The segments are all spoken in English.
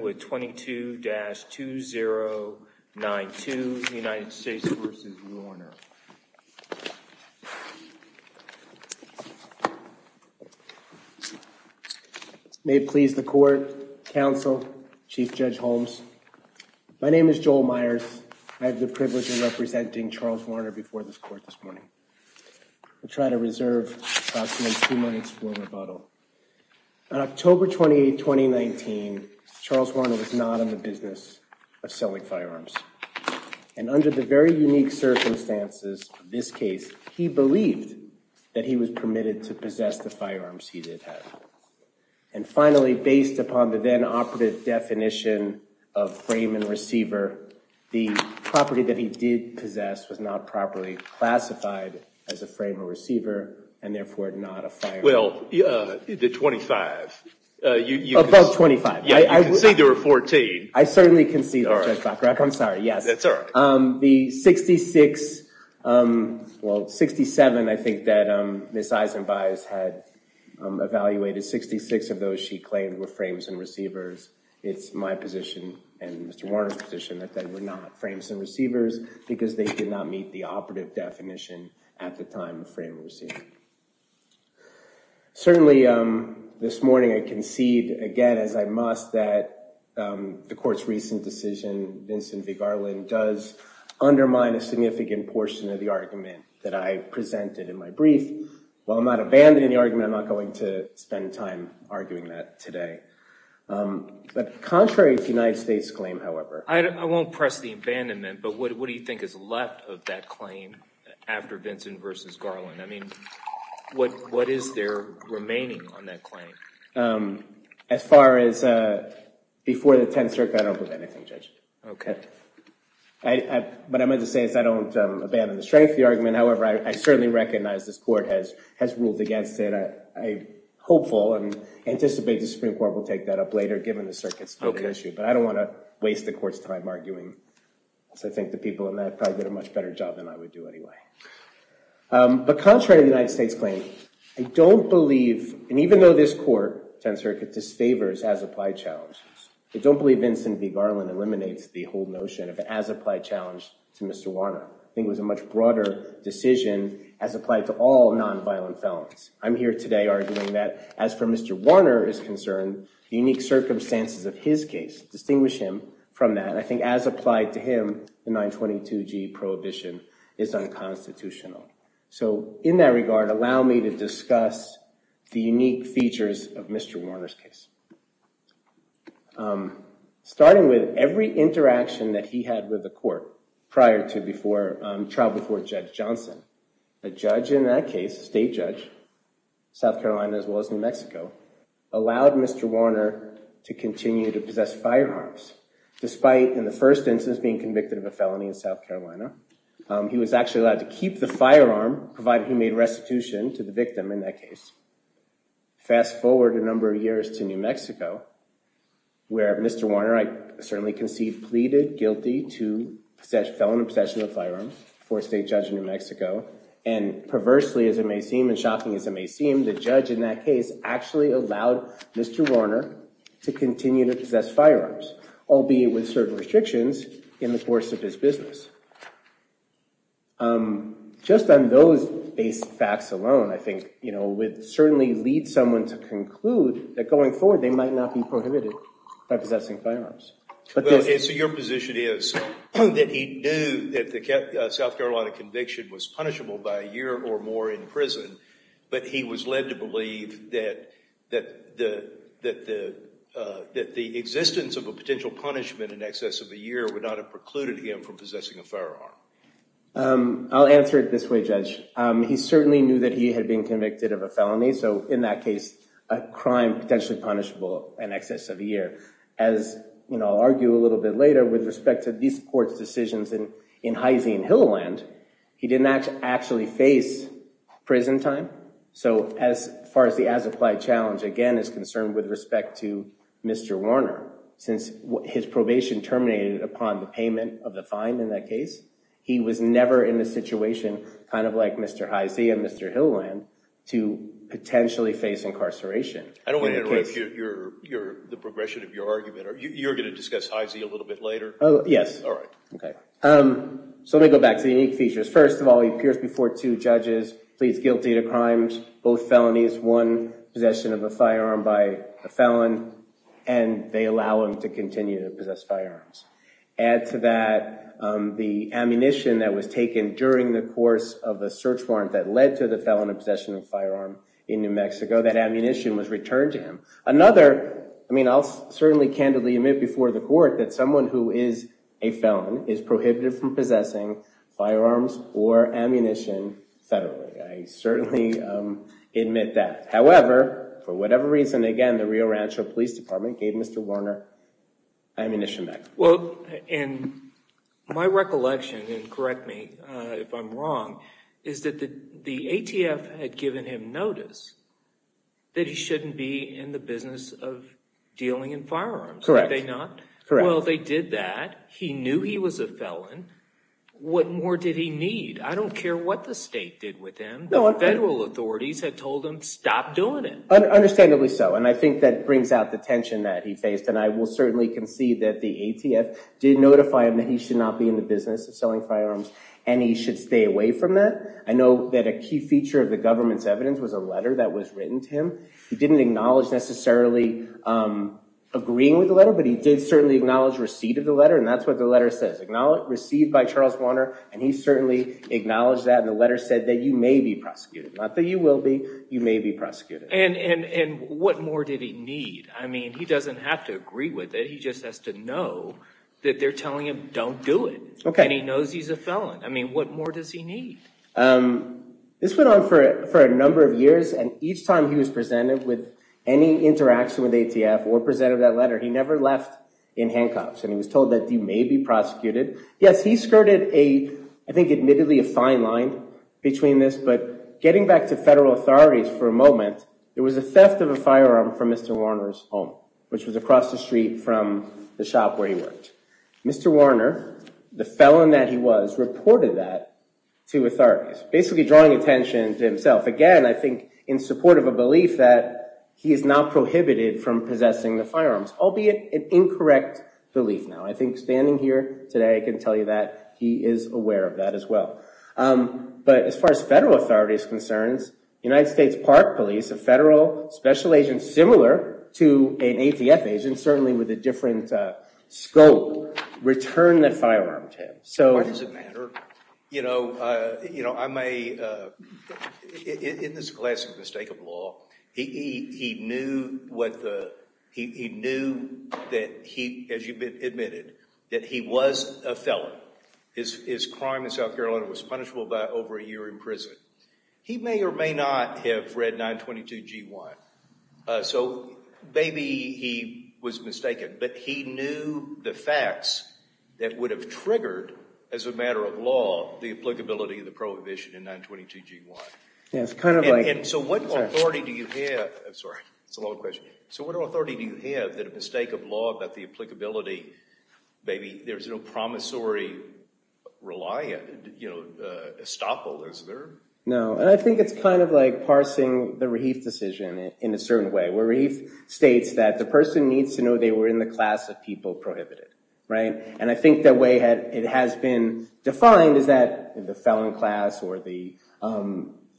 with 22-2092 United States v. Warner. May it please the court, counsel, Chief Judge Holmes. My name is Joel Myers. I have the privilege of representing Charles Warner before this court this morning. I'll try to reserve approximately two minutes for rebuttal. On October 28, 2019, Charles Warner was not in the business of selling firearms. And under the very unique circumstances of this case, he believed that he was permitted to possess the firearms he did have. And finally, based upon the then operative definition of frame and receiver, the property that he did possess was not properly classified as a frame or receiver and therefore not a firearm. Well, the 25. Above 25. Yeah, you can see there were 14. I certainly can see that, Judge Bacharach. I'm sorry. Yes. That's all right. The 66, well, 67, I think that Ms. Eisenbaiz had evaluated. 66 of those she claimed were frames and receivers. It's my position and Mr. Warner's position that they were not frames and receivers because they did not meet the operative definition at the time of frame and receiver. Certainly, this morning, I concede again, as I must, that the court's recent decision, Vincent v. Garland, does undermine a significant portion of the argument that I presented in my brief. While I'm not abandoning the argument, I'm not going to spend time arguing that today. But contrary to the United States claim, however. I won't press the abandonment, but what do you think is left of that claim after Vincent v. Garland? I mean, what is there remaining on that claim? As far as before the 10th Circuit, I don't believe anything, Judge. Okay. What I meant to say is I don't abandon the strength of the argument. However, I certainly recognize this court has ruled against it. I'm hopeful and anticipate the Supreme Court will take that up later, given the circuit's stated issue. But I don't want to waste the court's time arguing. I think the people in that probably did a much better job than I would do anyway. But contrary to the United States claim, I don't believe, and even though this court, 10th Circuit, disfavors as-applied challenges, I don't believe Vincent v. Garland eliminates the whole notion of an as-applied challenge to Mr. Warner. I think it was a much broader decision as applied to all nonviolent felons. I'm here today arguing that, as for Mr. Warner is concerned, the unique circumstances of his case distinguish him from that. And I think as applied to him, the 922G prohibition is unconstitutional. So in that regard, allow me to discuss the unique features of Mr. Warner's case. Starting with every interaction that he had with the court prior to, before, trial before Judge Johnson, a judge in that case, a state judge, South Carolina as well as New Mexico, allowed Mr. Warner to continue to possess firearms, despite, in the first instance, being convicted of a felony in South Carolina. He was actually allowed to keep the firearm, provided he made restitution to the victim in that case. Fast forward a number of years to New Mexico, where Mr. Warner, I certainly concede, pleaded guilty to felony possession of firearms before a state judge in New Mexico. And perversely, as it may seem, and shocking as it may seem, the judge in that case actually allowed Mr. Warner to continue to possess firearms. Albeit with certain restrictions in the course of his business. Just on those base facts alone, I think, you know, would certainly lead someone to conclude that going forward, they might not be prohibited by possessing firearms. So your position is that he knew that the South Carolina conviction was punishable by a year or more in prison, but he was led to believe that the existence of a potential punishment in excess of a year would not have precluded him from possessing a firearm? I'll answer it this way, Judge. He certainly knew that he had been convicted of a felony. So in that case, a crime potentially punishable in excess of a year. As, you know, I'll argue a little bit later, with respect to these court's decisions in Hy-Zine, Hilleland, he did not actually face prison time. So as far as the as-applied challenge, again, is concerned with respect to Mr. Warner. Since his probation terminated upon the payment of the fine in that case, he was never in a situation, kind of like Mr. Hy-Zine and Mr. Hilleland, to potentially face incarceration. I don't want to interrupt the progression of your argument. You're going to discuss Hy-Zine a little bit later? Oh, yes. All right. Okay. So let me go back to the unique features. First of all, he appears before two judges, pleads guilty to crimes, both felonies, one possession of a firearm by a felon, and they allow him to continue to possess firearms. Add to that the ammunition that was taken during the course of a search warrant that led to the felon of possession of firearm in New Mexico. That ammunition was returned to him. Another, I mean, I'll certainly candidly admit before the court that someone who is a felon is prohibited from possessing firearms or ammunition federally. I certainly admit that. However, for whatever reason, again, the Rio Rancho Police Department gave Mr. Warner ammunition back. Well, and my recollection, and correct me if I'm wrong, is that the ATF had given him notice that he shouldn't be in the business of dealing in firearms. Correct. Are they not? Correct. Well, they did that. He knew he was a felon. What more did he need? I don't care what the state did with him. The federal authorities had told him stop doing it. Understandably so. And I think that brings out the tension that he faced. And I will certainly concede that the ATF did notify him that he should not be in the business of selling firearms and he should stay away from that. I know that a key feature of the government's evidence was a letter that was written to him. He didn't acknowledge necessarily agreeing with the letter, but he did certainly acknowledge receipt of the letter. And that's what the letter says. Received by Charles Warner. And he certainly acknowledged that. And the letter said that you may be prosecuted. Not that you will be. You may be prosecuted. And what more did he need? I mean, he doesn't have to agree with it. He just has to know that they're telling him don't do it. And he knows he's a felon. I mean, what more does he need? This went on for a number of years. And each time he was presented with any interaction with ATF or presented that letter, he never left in handcuffs. And he was told that you may be prosecuted. Yes, he skirted a, I think admittedly a fine line between this. But getting back to federal authorities for a moment, it was a theft of a firearm from Mr. Warner's home, which was across the street from the shop where he worked. Mr. Warner, the felon that he was, reported that to authorities. Basically drawing attention to himself. Again, I think in support of a belief that he is not prohibited from possessing the firearms. Albeit an incorrect belief now. I think standing here today, I can tell you that he is aware of that as well. But as far as federal authorities' concerns, United States Park Police, a federal special agent similar to an ATF agent, certainly with a different scope, returned the firearm to him. Why does it matter? You know, in this classic mistake of law, he knew that he, as you admitted, that he was a felon. His crime in South Carolina was punishable by over a year in prison. He may or may not have read 922 G1. So maybe he was mistaken. But he knew the facts that would have triggered, as a matter of law, the applicability of the prohibition in 922 G1. And so what authority do you have? I'm sorry, it's a long question. So what authority do you have that a mistake of law about the applicability, maybe there's no promissory reliant, you know, estoppel, is there? No, and I think it's kind of like parsing the Rahif decision in a certain way, where Rahif states that the person needs to know they were in the class of people prohibited, right? And I think the way it has been defined is that the felon class or the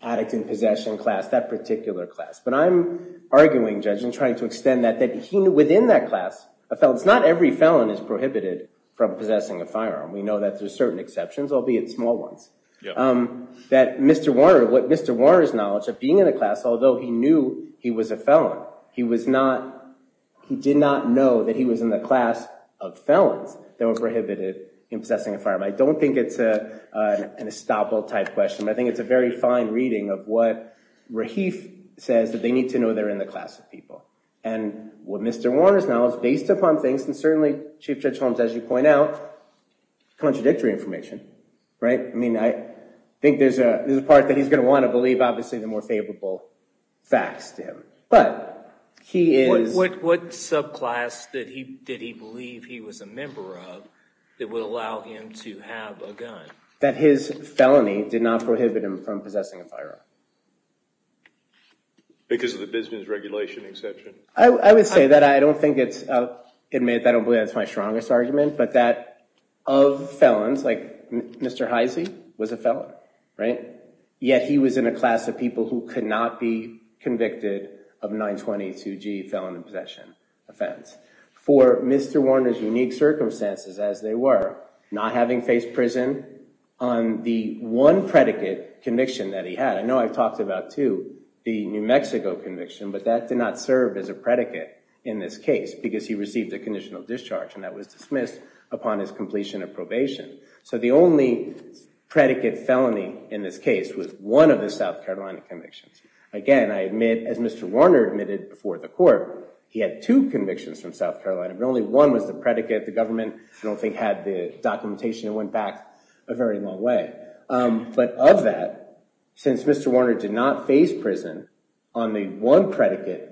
addict in possession class, that particular class. But I'm arguing, Judge, and trying to extend that, that within that class of felons, not every felon is prohibited from possessing a firearm. We know that there's certain exceptions, albeit small ones, that Mr. Warner, what Mr. Warner's knowledge of being in a class, although he knew he was a felon, he was not, he did not know that he was in the class of felons that were prohibited in possessing a firearm. I don't think it's an estoppel type question, but I think it's a very fine reading of what Rahif says that they need to know they're in the class of people. And what Mr. Warner's knowledge, based upon things, and certainly Chief Judge Holmes, as you point out, contradictory information, right? I mean, I think there's a part that he's going to want to believe, obviously, the more favorable facts to him. But he is... What subclass did he believe he was a member of that would allow him to have a gun? That his felony did not prohibit him from possessing a firearm. Because of the business regulation exception? I would say that. I don't think it's, I'll admit, I don't believe that's my strongest argument, but that of felons, like Mr. Heise was a felon, right? Yet he was in a class of people who could not be convicted of 922G, felon in possession offense. For Mr. Warner's unique circumstances as they were, not having faced prison on the one predicate conviction that he had, I know I've talked about, too, the New Mexico conviction, but that did not serve as a predicate in this case because he received a conditional discharge and that was dismissed upon his completion of probation. So the only predicate felony in this case was one of the South Carolina convictions. Again, I admit, as Mr. Warner admitted before the court, he had two convictions from South Carolina, but only one was the predicate. The government, I don't think, had the documentation. It went back a very long way. But of that, since Mr. Warner did not face prison on the one predicate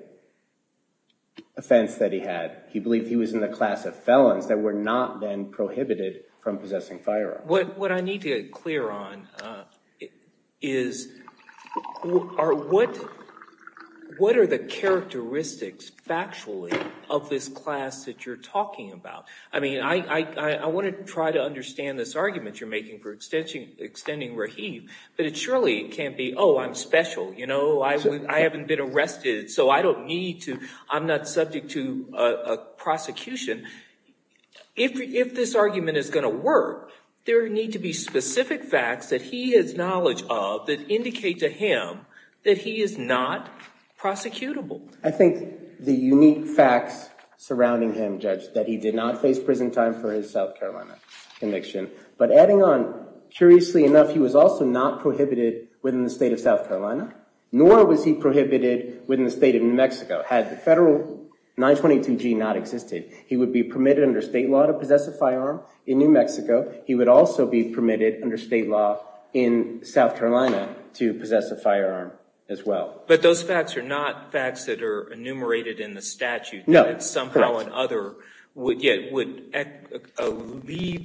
offense that he had, he believed he was in the class of felons that were not then prohibited from possessing firearms. What I need to get clear on is what are the characteristics, factually, of this class that you're talking about? I mean, I want to try to understand this argument you're making for extending Rahib, but it surely can't be, oh, I'm special, you know, I haven't been arrested, so I don't need to, I'm not subject to prosecution. If this argument is going to work, there need to be specific facts that he has knowledge of that indicate to him that he is not prosecutable. I think the unique facts surrounding him, Judge, that he did not face prison time for his South Carolina conviction, but adding on, curiously enough, he was also not prohibited within the state of South Carolina, nor was he prohibited within the state of New Mexico, had the federal 922G not existed. He would be permitted under state law to possess a firearm in New Mexico, he would also be permitted under state law in South Carolina to possess a firearm as well. But those facts are not facts that are enumerated in the statute. No, correct. That somehow or another would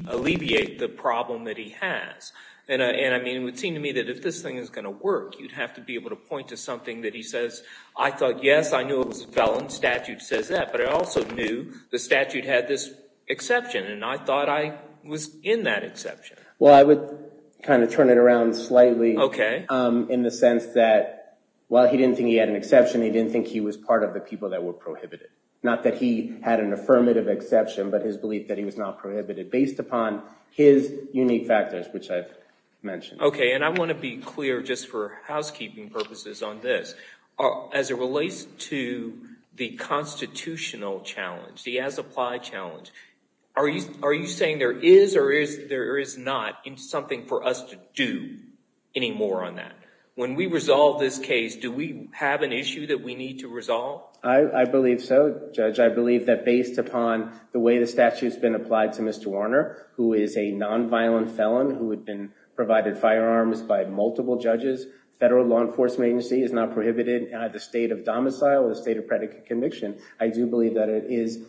alleviate the problem that he has. And it would seem to me that if this thing is going to work, you'd have to be able to point to something that he says, I thought, yes, I knew it was a felon, statute says that, but I also knew the statute had this exception and I thought I was in that exception. Well, I would kind of turn it around slightly in the sense that while he didn't think he had an exception, he didn't think he was part of the people that were prohibited. Not that he had an affirmative exception, but his belief that he was not prohibited based upon his unique factors, which I've mentioned. Okay, and I want to be clear just for housekeeping purposes on this. As it relates to the constitutional challenge, the as-applied challenge, are you saying there is or there is not something for us to do anymore on that? When we resolve this case, do we have an issue that we need to resolve? I believe so, Judge. I believe that based upon the way the statute's been applied to Mr. Warner, who is a non-violent felon who had been provided firearms by multiple judges, the Federal Law Enforcement Agency has not prohibited the state of domicile or the state of predicate conviction. I do believe that it is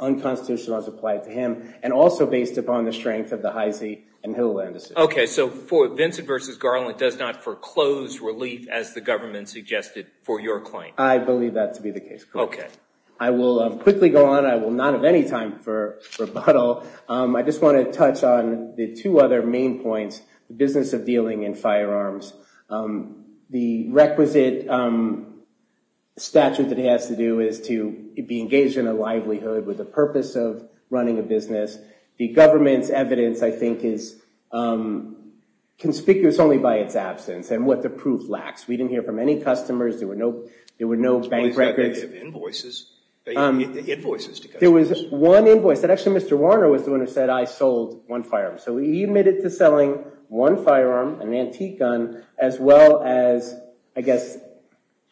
unconstitutional as applied to him, and also based upon the strength of the Heise and Hilleland decision. Okay, so Vincent v. Garland does not foreclose relief, as the government suggested, for your claim? I believe that to be the case, Court. I will quickly go on. I will not have any time for rebuttal. I just want to touch on the two other main points. The business of dealing in firearms. The requisite statute that he has to do is to be engaged in a livelihood with the purpose of running a business. The government's evidence, I think, is conspicuous only by its absence and what the proof lacks. We didn't hear from any customers. There were no bank records. There were invoices. There was one invoice. Actually, Mr. Warner was the one who said, I sold one firearm. So he admitted to selling one firearm, an antique gun, as well as, I guess,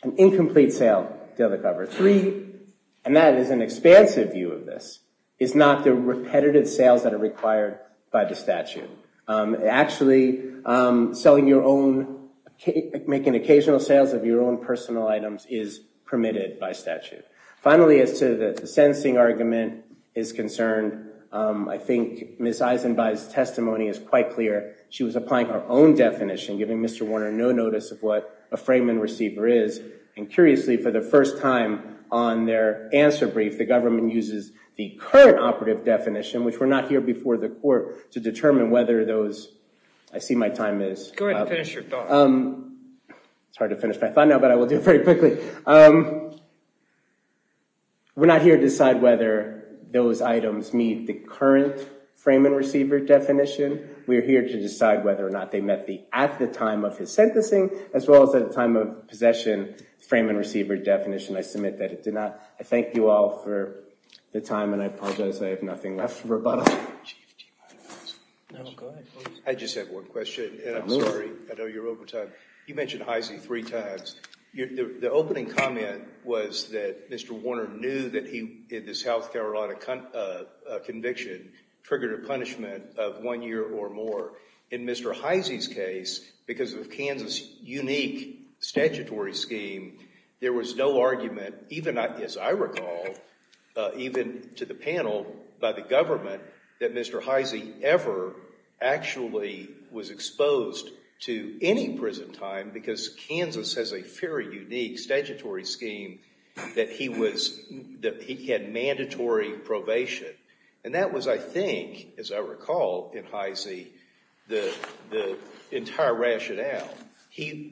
an incomplete sale. Three, and that is an expansive view of this, is not the repetitive sales that are required by the statute. Actually, selling your own, making occasional sales of your own personal items is permitted by statute. Finally, as to the sentencing argument is concerned, I think Ms. Eisenbaugh's testimony is quite clear. She was applying her own definition, giving Mr. Warner no notice of what a frame and receiver is. And curiously, for the first time on their answer brief, the government uses the current operative definition, which we're not here before the court, to determine whether those... I see my time is up. Go ahead and finish your thought. It's hard to finish my thought now, but I will do it very quickly. We're not here to decide whether those items meet the current frame and receiver definition. We're here to decide whether or not they met the at-the-time-of-his-sentencing, as well as at-the-time-of-possession frame and receiver definition. I submit that it did not. I thank you all for the time, and I apologize I have nothing left for rebuttal. No, go ahead. I just have one question, and I'm sorry, I know you're over time. You mentioned Heise three times. The opening comment was that Mr. Warner knew that he, in this South Carolina conviction, triggered a punishment of one year or more. In Mr. Heise's case, because of Kansas' unique statutory scheme, there was no argument, even as I recall, even to the panel, by the government, that Mr. Heise ever actually was exposed to any prison time because Kansas has a very unique statutory scheme that he had mandatory probation. And that was, I think, as I recall in Heise, the entire rationale.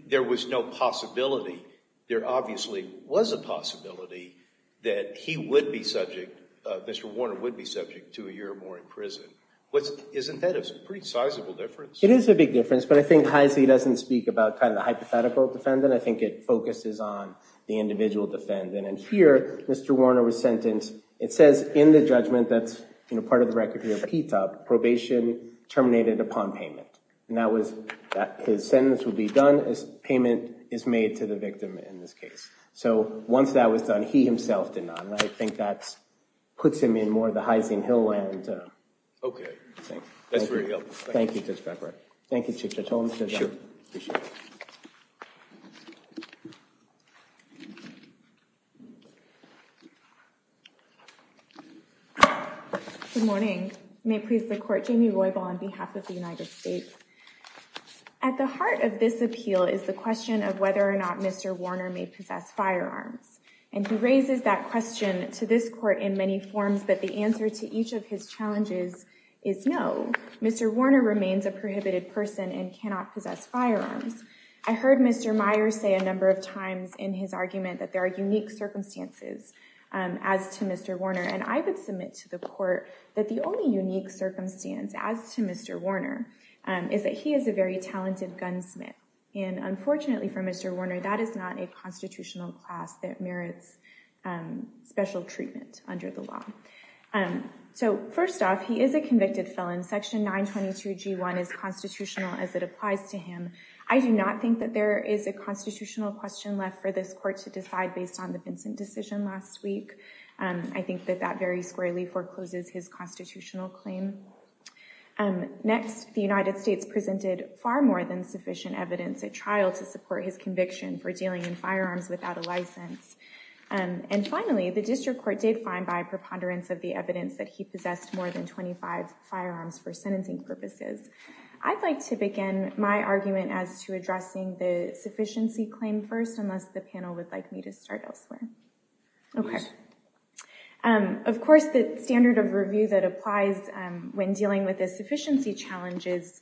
There was no possibility. There obviously was a possibility that he would be subject, Mr. Warner would be subject, to a year or more in prison. Isn't that a pretty sizable difference? It is a big difference, but I think Heise doesn't speak about the hypothetical defendant. I think it focuses on the individual defendant. And here, Mr. Warner was sentenced, it says in the judgment that's part of the record here, probation terminated upon payment. His sentence would be done as payment is made to the victim in this case. So once that was done, he himself did not. I think that puts him in more of the Heise and Hill land. Okay. That's very helpful. Thank you. Good morning. May it please the Court, Jamie Roybal on behalf of the United States. At the heart of this appeal is the question of whether or not Mr. Warner may possess firearms. And he raises that question to this Court in many forms, but the answer to each of his challenges is no. Mr. Warner remains a prohibited person and cannot possess firearms. I heard Mr. Meyer say a number of times in his argument that there are unique circumstances as to Mr. Warner, and I would submit to the Court that the only unique circumstance as to Mr. Warner is that he is a very talented gunsmith. And unfortunately for Mr. Warner, that is not a constitutional class that merits special treatment under the law. So, first off, he is a convicted felon. Section 922G1 is constitutional as it applies to him. I do not think that there is a constitutional question left for this Court to decide based on the Vincent decision last week. I think that that very squarely forecloses his constitutional claim. Next, the United States presented far more than 25 firearms for his conviction for dealing in firearms without a license. And finally, the District Court did find by preponderance of the evidence that he possessed more than 25 firearms for sentencing purposes. I'd like to begin my argument as to addressing the sufficiency claim first, unless the panel would like me to start elsewhere. Of course, the standard of review that applies when dealing with the sufficiency challenges,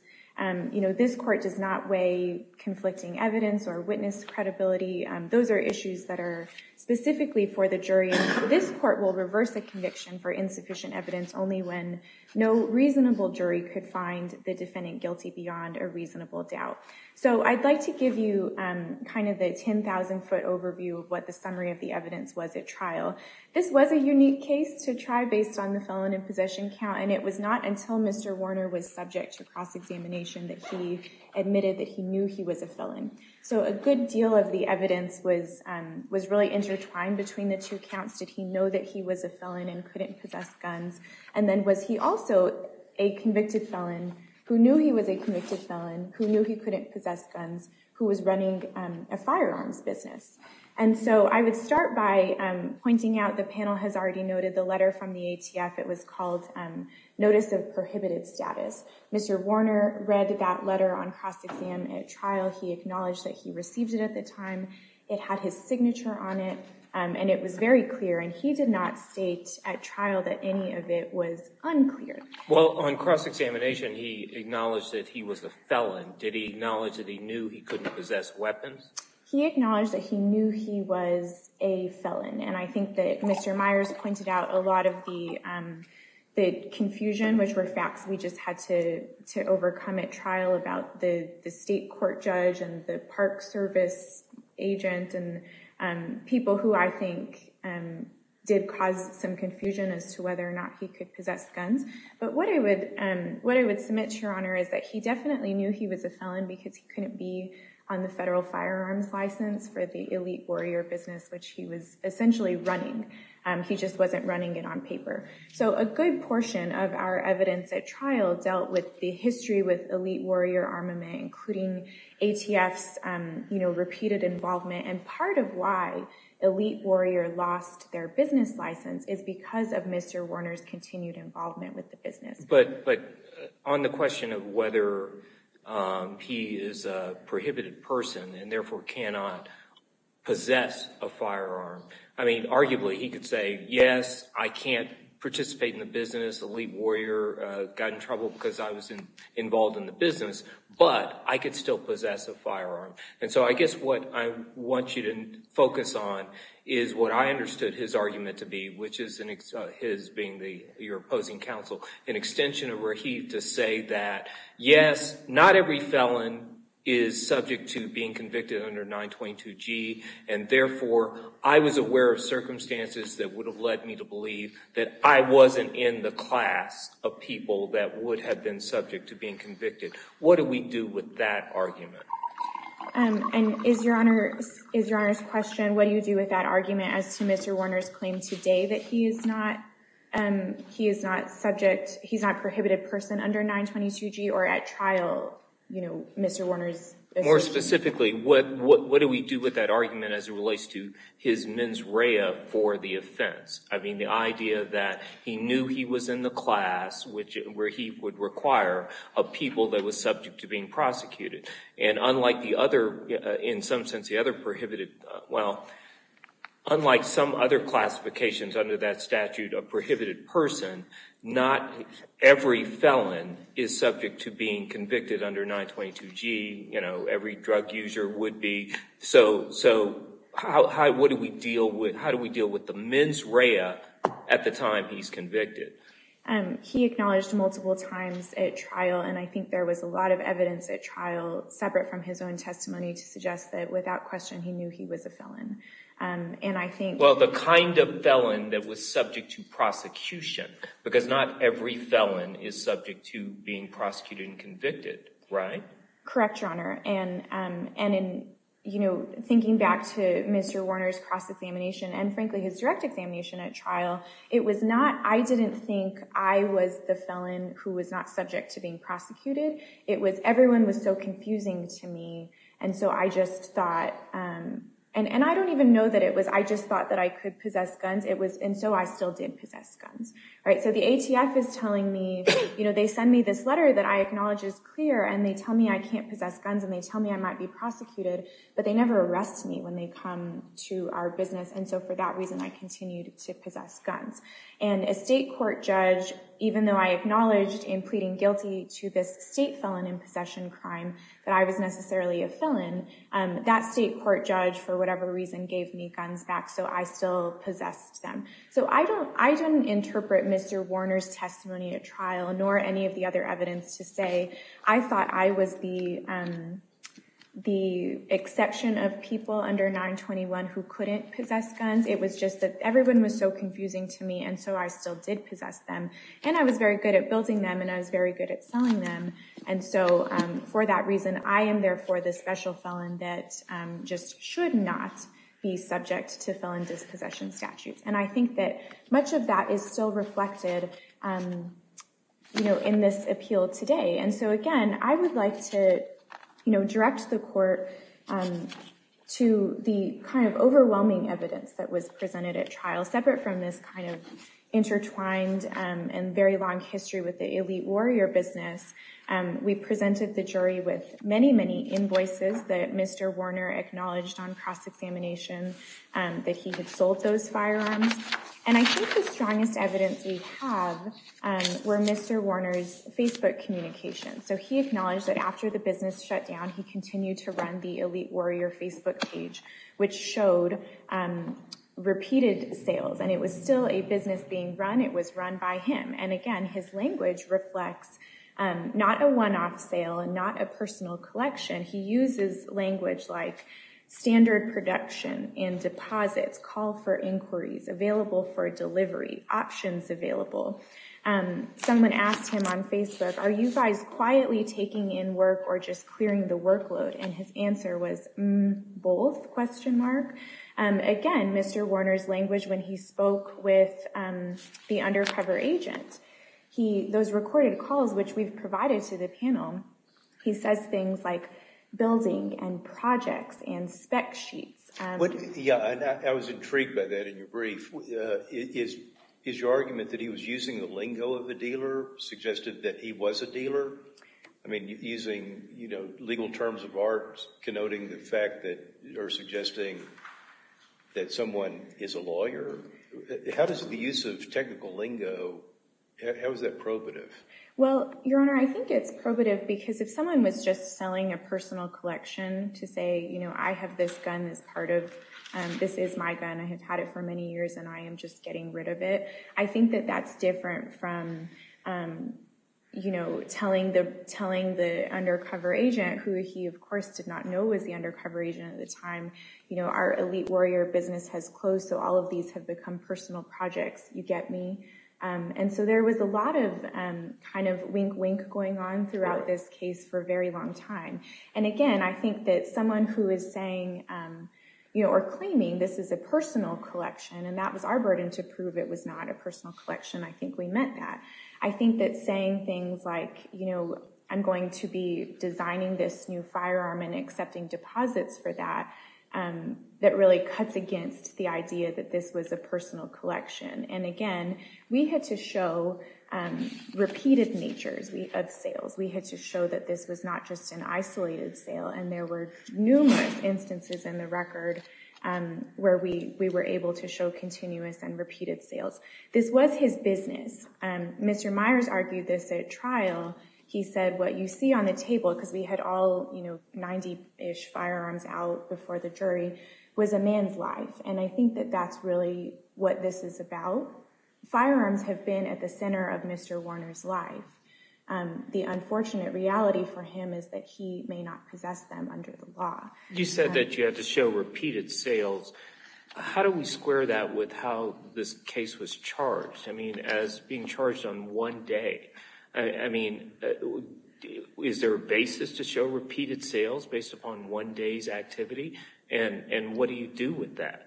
this Court does not weigh conflicting evidence or witness credibility. Those are issues that are specifically for the jury. This Court will reverse a conviction for insufficient evidence only when no reasonable jury could find the defendant guilty beyond a reasonable doubt. I'd like to give you the 10,000 foot overview of what the summary of the evidence was at trial. This was a unique case to try based on the felon in possession count, and it was not until Mr. Warner was subject to cross-examination that he admitted that he knew he was a felon. So a good deal of the evidence was really intertwined between the two counts. Did he know that he was a felon and couldn't possess guns? And then was he also a convicted felon who knew he was a convicted felon, who knew he couldn't possess guns, who was running a firearms business? I would start by pointing out the panel has already noted the letter from the ATF. It was called Notice of Prohibited Status. Mr. Warner read that letter on cross-exam at trial. He acknowledged that he received it at the time. It had his signature on it and it was very clear, and he did not state at trial that any of it was unclear. Well, on cross-examination, he acknowledged that he was a felon. Did he acknowledge that he knew he couldn't possess weapons? He acknowledged that he knew he was a felon, and I think that Mr. Myers pointed out a lot of the confusion, which were facts we just had to overcome at trial about the state court judge and the park service agent and people who I think did cause some confusion as to whether or not he could possess guns. But what I would submit, Your Honor, is that he definitely knew he was a felon because he couldn't be on the federal firearms license for the elite warrior business which he was essentially running. He just wasn't running it on paper. So a good portion of our evidence at trial dealt with the history with elite warrior armament including ATF's repeated involvement and part of why elite warrior lost their business license is because of Mr. Warner's continued involvement with the business. But on the question of whether he is a prohibited person and therefore cannot possess a firearm, I don't think he could say yes, I can't participate in the business elite warrior got in trouble because I was involved in the business but I could still possess a firearm. And so I guess what I want you to focus on is what I understood his argument to be which is his being your opposing counsel an extension of Rahif to say that yes, not every felon is subject to being convicted under 922G and therefore I was aware of circumstances that would have led me to believe that I wasn't in the class of people that would have been subject to being convicted. What do we do with that argument? And is your Honor's question what do you do with that argument as to Mr. Warner's claim today that he is not he is not subject he is not a prohibited person under 922G or at trial Mr. Warner's... More specifically what do we do with that argument as it relates to his mens rea for the offense? I mean the idea that he knew he was in the class where he would require a people that was subject to being prosecuted and unlike the other in some sense the other prohibited well unlike some other classifications under that statute of prohibited person not every felon is subject to being convicted under 922G you know every drug user would be so how do we deal with the mens rea at the time he's convicted? He acknowledged multiple times at trial and I think there was a lot of evidence at trial separate from his own testimony to suggest that without question he knew he was a felon and I think... Well the kind of felon that was subject to prosecution because not every felon is subject to being prosecuted and convicted right? Correct your honor and in you know thinking back to Mr. Warner's cross examination and frankly his direct examination at trial it was not I didn't think I was the felon who was not subject to being prosecuted it was everyone was so confusing to me and so I just thought and I don't even know that it was I just thought that I could possess guns it was and so I still did possess guns right so the ATF is telling me you know they send me this letter that I acknowledge is clear and they tell me I can't possess guns and they tell me I might be prosecuted but they never arrest me when they come to our business and so for that reason I continued to possess guns and a state court judge even though I acknowledged in pleading guilty to this state felon in possession crime that I was necessarily a felon that state court judge for whatever reason gave me guns back so I still possessed them so I don't interpret Mr. Warner's trial nor any of the other evidence to say I thought I was the the exception of people under 921 who couldn't possess guns it was just that everyone was so confusing to me and so I still did possess them and I was very good at building them and I was very good at selling them and so for that reason I am therefore the special felon that just should not be subject to felon dispossession statutes and I think that much of that is still reflected in this appeal today and so again I would like to direct the court to the kind of overwhelming evidence that was presented at trial separate from this kind of intertwined and very long history with the elite warrior business we presented the jury with many many invoices that Mr. Warner acknowledged on cross-examination that he had sold those firearms and I think the strongest evidence we have were Mr. Warner's Facebook communications so he acknowledged that after the business shut down he continued to run the elite warrior Facebook page which showed repeated sales and it was still a business being run, it was run by him and again his language reflects not a one-off sale and not a personal collection he uses language like standard production in available for delivery options available someone asked him on Facebook are you guys quietly taking in work or just clearing the workload and his answer was both question mark, again Mr. Warner's language when he spoke with the undercover agent, those recorded calls which we've provided to the panel he says things like building and projects and spec sheets I was intrigued by that in your brief is your argument that he was using the lingo of the dealer suggested that he was a dealer using legal terms of art connoting the fact that you're suggesting that someone is a lawyer how does the use of technical lingo, how is that probative? Well your honor I think it's probative because if someone was just selling a personal collection to say you know I have this gun as part of, this is my gun I have had it for many years and I am just getting rid of it, I think that that's different from you know telling the undercover agent who he of course did not know was the undercover agent at the time, you know our elite warrior business has closed so all of these have become personal projects, you get me? And so there was a lot of kind of wink wink going on throughout this case for a very long time and again I think that someone who is saying you know or claiming this is a personal collection and that was our burden to prove it was not a personal collection I think we meant that, I think that saying things like you know I'm going to be designing this new firearm and accepting deposits for that, that really cuts against the idea that this was a personal collection and again we had to show repeated natures of sales, we had to show that this was not just an isolated sale and there were numerous instances in the record where we were able to show continuous and repeated sales, this was his business, Mr. Myers argued this at trial, he said what you see on the table because we had all you know 90-ish firearms out before the jury was a man's life and I think that that's really what this is about firearms have been at the center of Mr. Warner's life the unfortunate reality for him is that he may not possess them under the law. You said that you had to show repeated sales how do we square that with how this case was charged, I mean as being charged on one day I mean is there a basis to show repeated sales based upon one day's activity and what do you do with that?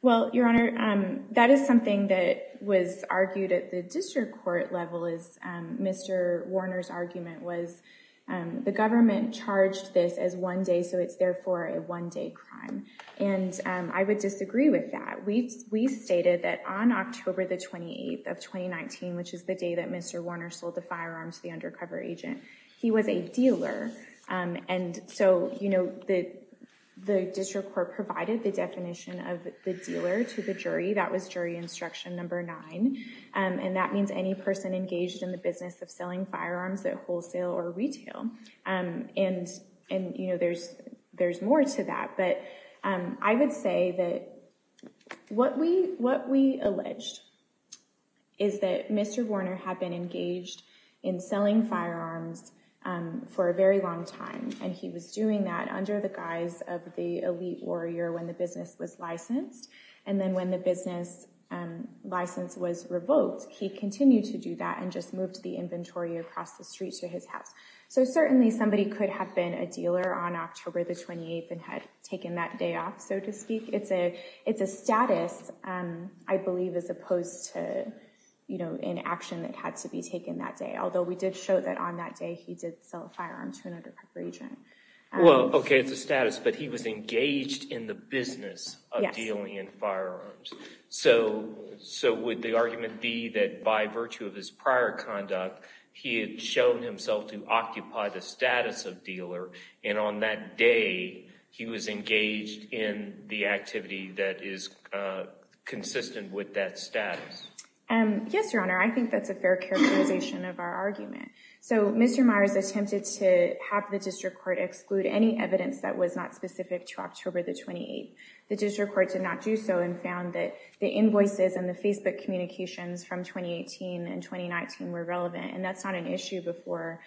Well, Your Honor that is something that was argued at the district court level as Mr. Warner's argument was the government charged this as one day so it's therefore a one day crime and I would disagree with that, we stated that on October the 28th of 2019 which is the day that Mr. Warner sold the firearms to the undercover agent he was a dealer and so you know the district court provided the definition of the dealer to the crime and that means any person engaged in the business of selling firearms at wholesale or retail and you know there's more to that but I would say that what we alleged is that Mr. Warner had been engaged in selling firearms for a very long time and he was doing that under the guise of the elite warrior when the business was licensed and then when the business license was revoked he continued to do that and just moved the inventory across the street to his house so certainly somebody could have been a dealer on October the 28th and had taken that day off so to speak it's a status I believe as opposed to you know an action that had to be taken that day although we did show that on that day he did sell a firearm to an undercover agent well okay it's a status but he was engaged in the business of dealing in firearms so would the argument be that by virtue of his prior conduct he had shown himself to occupy the status of dealer and on that day he was engaged in the activity that is consistent with that status yes your honor I think that's a fair characterization of our argument so Mr. Myers attempted to have the district court exclude any evidence that was not specific to October the 28th the district court did not do so and found that the invoices and the Facebook communications from 2018 and 2019 were relevant and that's not an issue before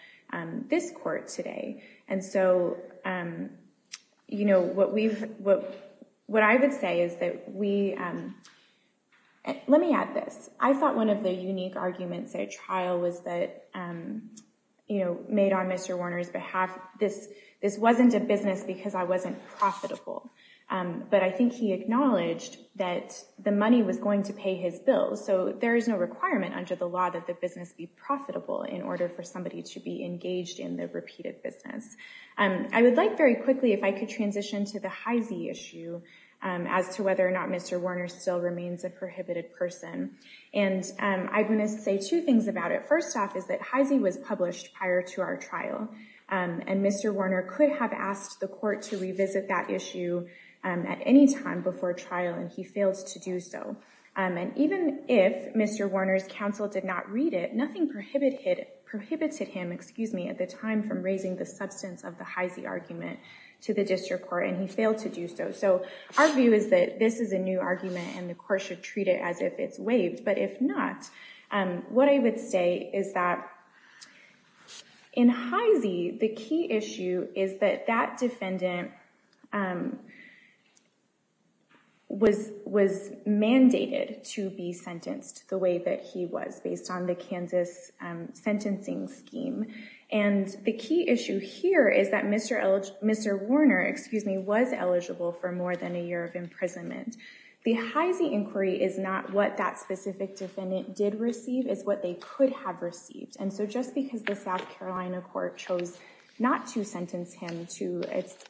this court today and so you know what we've what I would say is that we let me add this I thought one of the unique arguments at a trial was that you know made on Mr. Warner's behalf this this wasn't a business because I wasn't profitable but I think he acknowledged that the money was going to pay his bill so there is no requirement under the law that the business be profitable in order for somebody to be engaged in the repeated business I would like very quickly if I could transition to the Heise issue as to whether or not Mr. Warner still remains a prohibited person and I'm going to say two things about it first off is that Heise was published prior to our trial and Mr. Warner could have asked the court to revisit that issue at any time before trial and he failed to do so and even if Mr. Warner's counsel did not read it nothing prohibited prohibited him excuse me at the time from raising the substance of the Heise argument to the district court and he failed to do so so our view is that this is a new argument and the court should treat it as if it's waived but if not what I would say is that in Heise the key issue is that that defendant was mandated to be sentenced the way that he was based on the Kansas sentencing scheme and the key issue here is that Mr. Warner was eligible for more than a year of imprisonment the Heise inquiry is not what that specific defendant did receive is what they could have received and so just because the South Carolina court chose not to sentence him to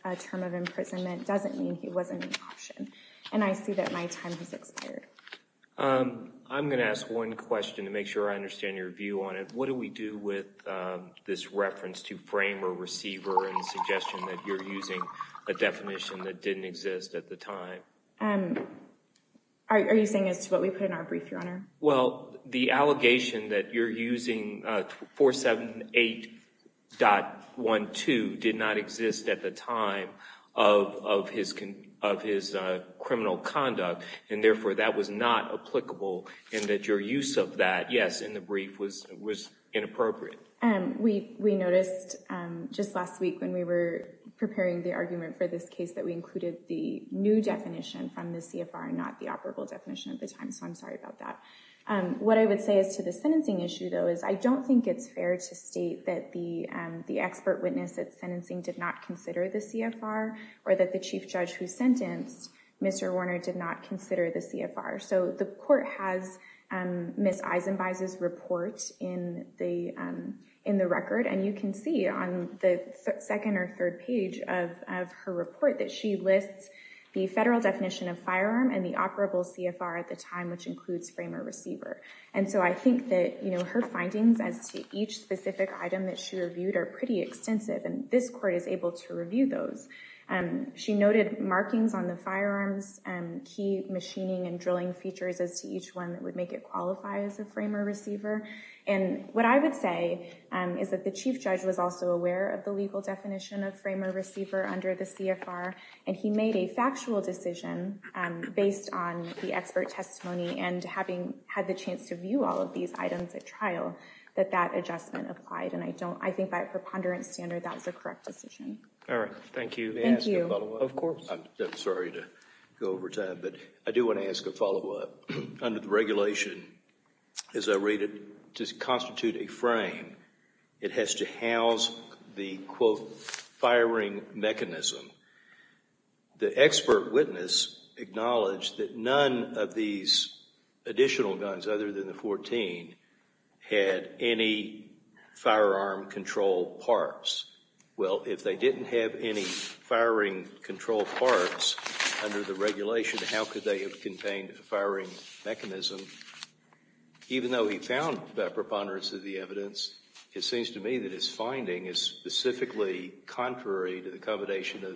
a term of imprisonment doesn't mean he wasn't an option and I see that my time has expired. I'm going to ask one question to make sure I understand your view on it. What do we do with this reference to frame or receiver and suggestion that you're using a definition that didn't exist at the time? Are you saying as to what we the allegation that you're using 478.12 did not exist at the time of his criminal conduct and therefore that was not applicable and that your use of that, yes, in the brief was inappropriate? We noticed just last week when we were preparing the argument for this case that we included the new definition from the CFR not the operable definition at the time so I'm sorry about that. What I would say as to the sentencing issue though is I don't think it's fair to state that the expert witness at sentencing did not consider the CFR or that the chief judge who sentenced Mr. Warner did not consider the CFR so the court has Ms. Eisenbaiz's report in the record and you can see on the second or third page of her report that she lists the federal definition of firearm which includes framer receiver and so I think that her findings as to each specific item that she reviewed are pretty extensive and this court is able to review those. She noted markings on the firearms and key machining and drilling features as to each one that would make it qualify as a framer receiver and what I would say is that the chief judge was also aware of the legal definition of framer receiver under the CFR and he made a factual decision based on the expert testimony and having had the chance to view all of these items at trial that that adjustment applied and I think by a preponderance standard that was the correct decision. Alright, thank you. May I ask a follow up? Of course. I'm sorry to go over time but I do want to ask a follow up. Under the regulation, as I read it, to constitute a frame it has to house the quote firing mechanism. The expert witness acknowledged that none of these additional guns other than the 14 had any firearm control parts. Well, if they didn't have any firing control parts under the regulation, how could they have contained a firing mechanism even though he found that preponderance of the evidence it seems to me that his finding is specifically contrary to the combination of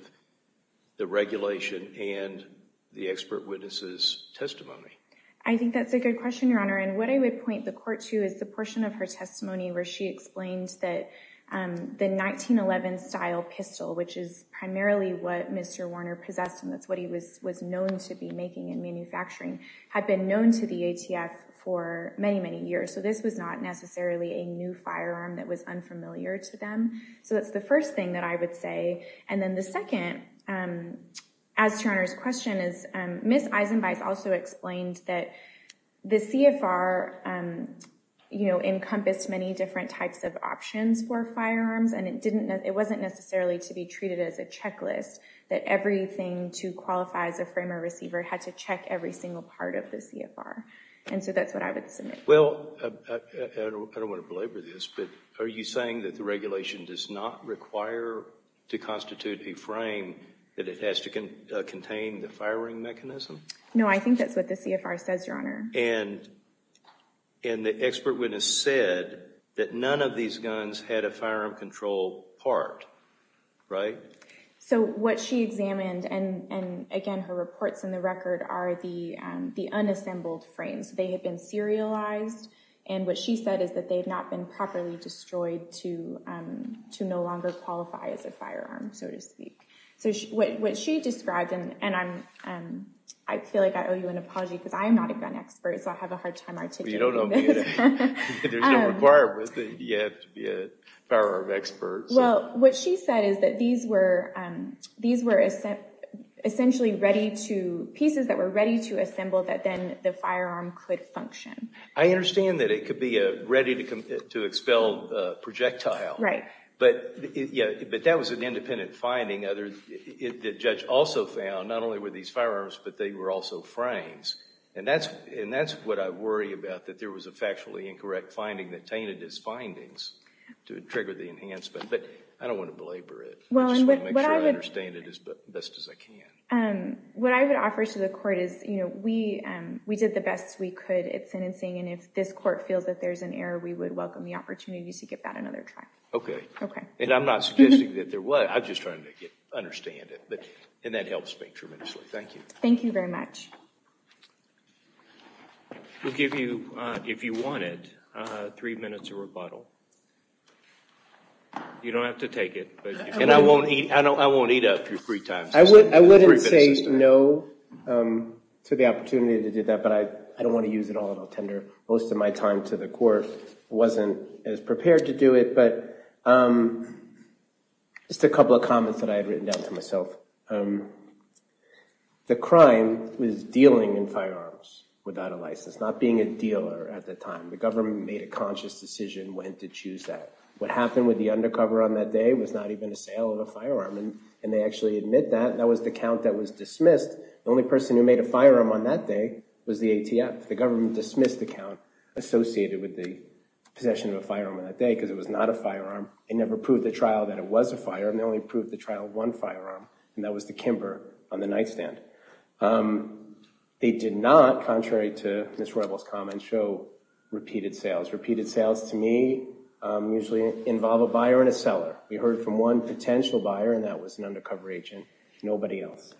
the regulation and the expert witness' testimony. I think that's a good question, Your Honor, and what I would point the court to is the portion of her testimony where she explained that the 1911 style pistol, which is primarily what Mr. Warner possessed and that's what he was known to be making and manufacturing, had been known to the ATF for many, many years so this was not necessarily a new firearm that was unfamiliar to them so that's the first thing that I would say and then the second as to Your Honor's question is Ms. Eisenbeiss also explained that the CFR encompassed many different types of options for firearms and it wasn't necessarily to be treated as a checklist that everything to qualify as a framer receiver had to check every single part of the CFR and so that's what I would submit. I don't want to belabor this but are you saying that the regulation does not require to constitute a frame that it has to contain the firing mechanism? No, I think that's what the CFR says, Your Honor. And the expert witness said that none of these guns had a firearm control part, right? So what she examined and again her reports in the record are the unassembled frames they had been serialized and what she said is that they had not been properly destroyed to no longer qualify as a firearm, so to speak. What she described and I feel like I owe you an apology because I am not a gun expert so I have a hard time articulating this. There's no requirement that you have to be a firearm expert. essentially ready to, pieces that were ready to assemble that then the firearm could function. I understand that it could be a ready to expel projectile. Right. But that was an independent finding. The judge also found not only were these firearms but they were also frames and that's what I worry about that there was a factually incorrect finding that tainted his findings to trigger the enhancement but I don't want to belabor it. I just want to make sure I understand it as best as I can. What I would offer to the court is we did the best we could at sentencing and if this court feels that there's an error we would welcome the opportunity to give that another try. I'm not suggesting that there was I'm just trying to understand it and that helps me tremendously. Thank you. Thank you very much. We'll give you if you want it three minutes of rebuttal. You don't have to take it and I won't eat up your free time. I wouldn't say no to the opportunity to do that but I don't want to use it all on a tender. Most of my time to the court wasn't as prepared to do it but just a couple of comments that I had written down to myself. The crime was dealing in firearms without a license, not being a dealer at the time. The government made a conscious decision when to choose that. What happened with the undercover on that day was not even a sale of a firearm and they actually admit that and that was the count that was dismissed. The only person who made a firearm on that day was the ATF. The government dismissed the count associated with the possession of a firearm on that day because it was not a firearm. It never proved the trial that it was a firearm. They only proved the trial of one firearm and that was the Kimber on the nightstand. They did not, contrary to Ms. Roybal's comments, show repeated sales. Repeated sales to me usually involve a buyer and a seller. We heard from one undercover agent, nobody else.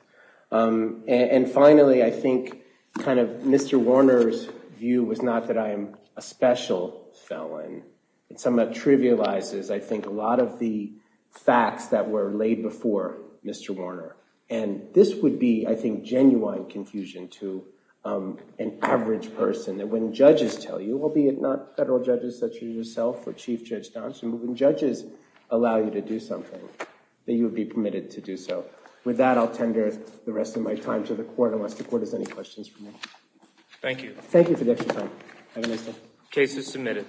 And finally, I think Mr. Warner's view was not that I am a special felon. It somewhat trivializes, I think, a lot of the facts that were laid before Mr. Warner and this would be, I think, genuine confusion to an average person that when judges tell you, albeit not federal judges such as yourself or Chief Judge Dawson, when judges allow you to do so. With that, I'll tender the rest of my time to the court unless the court has any questions for me. Thank you for your time. Case is submitted.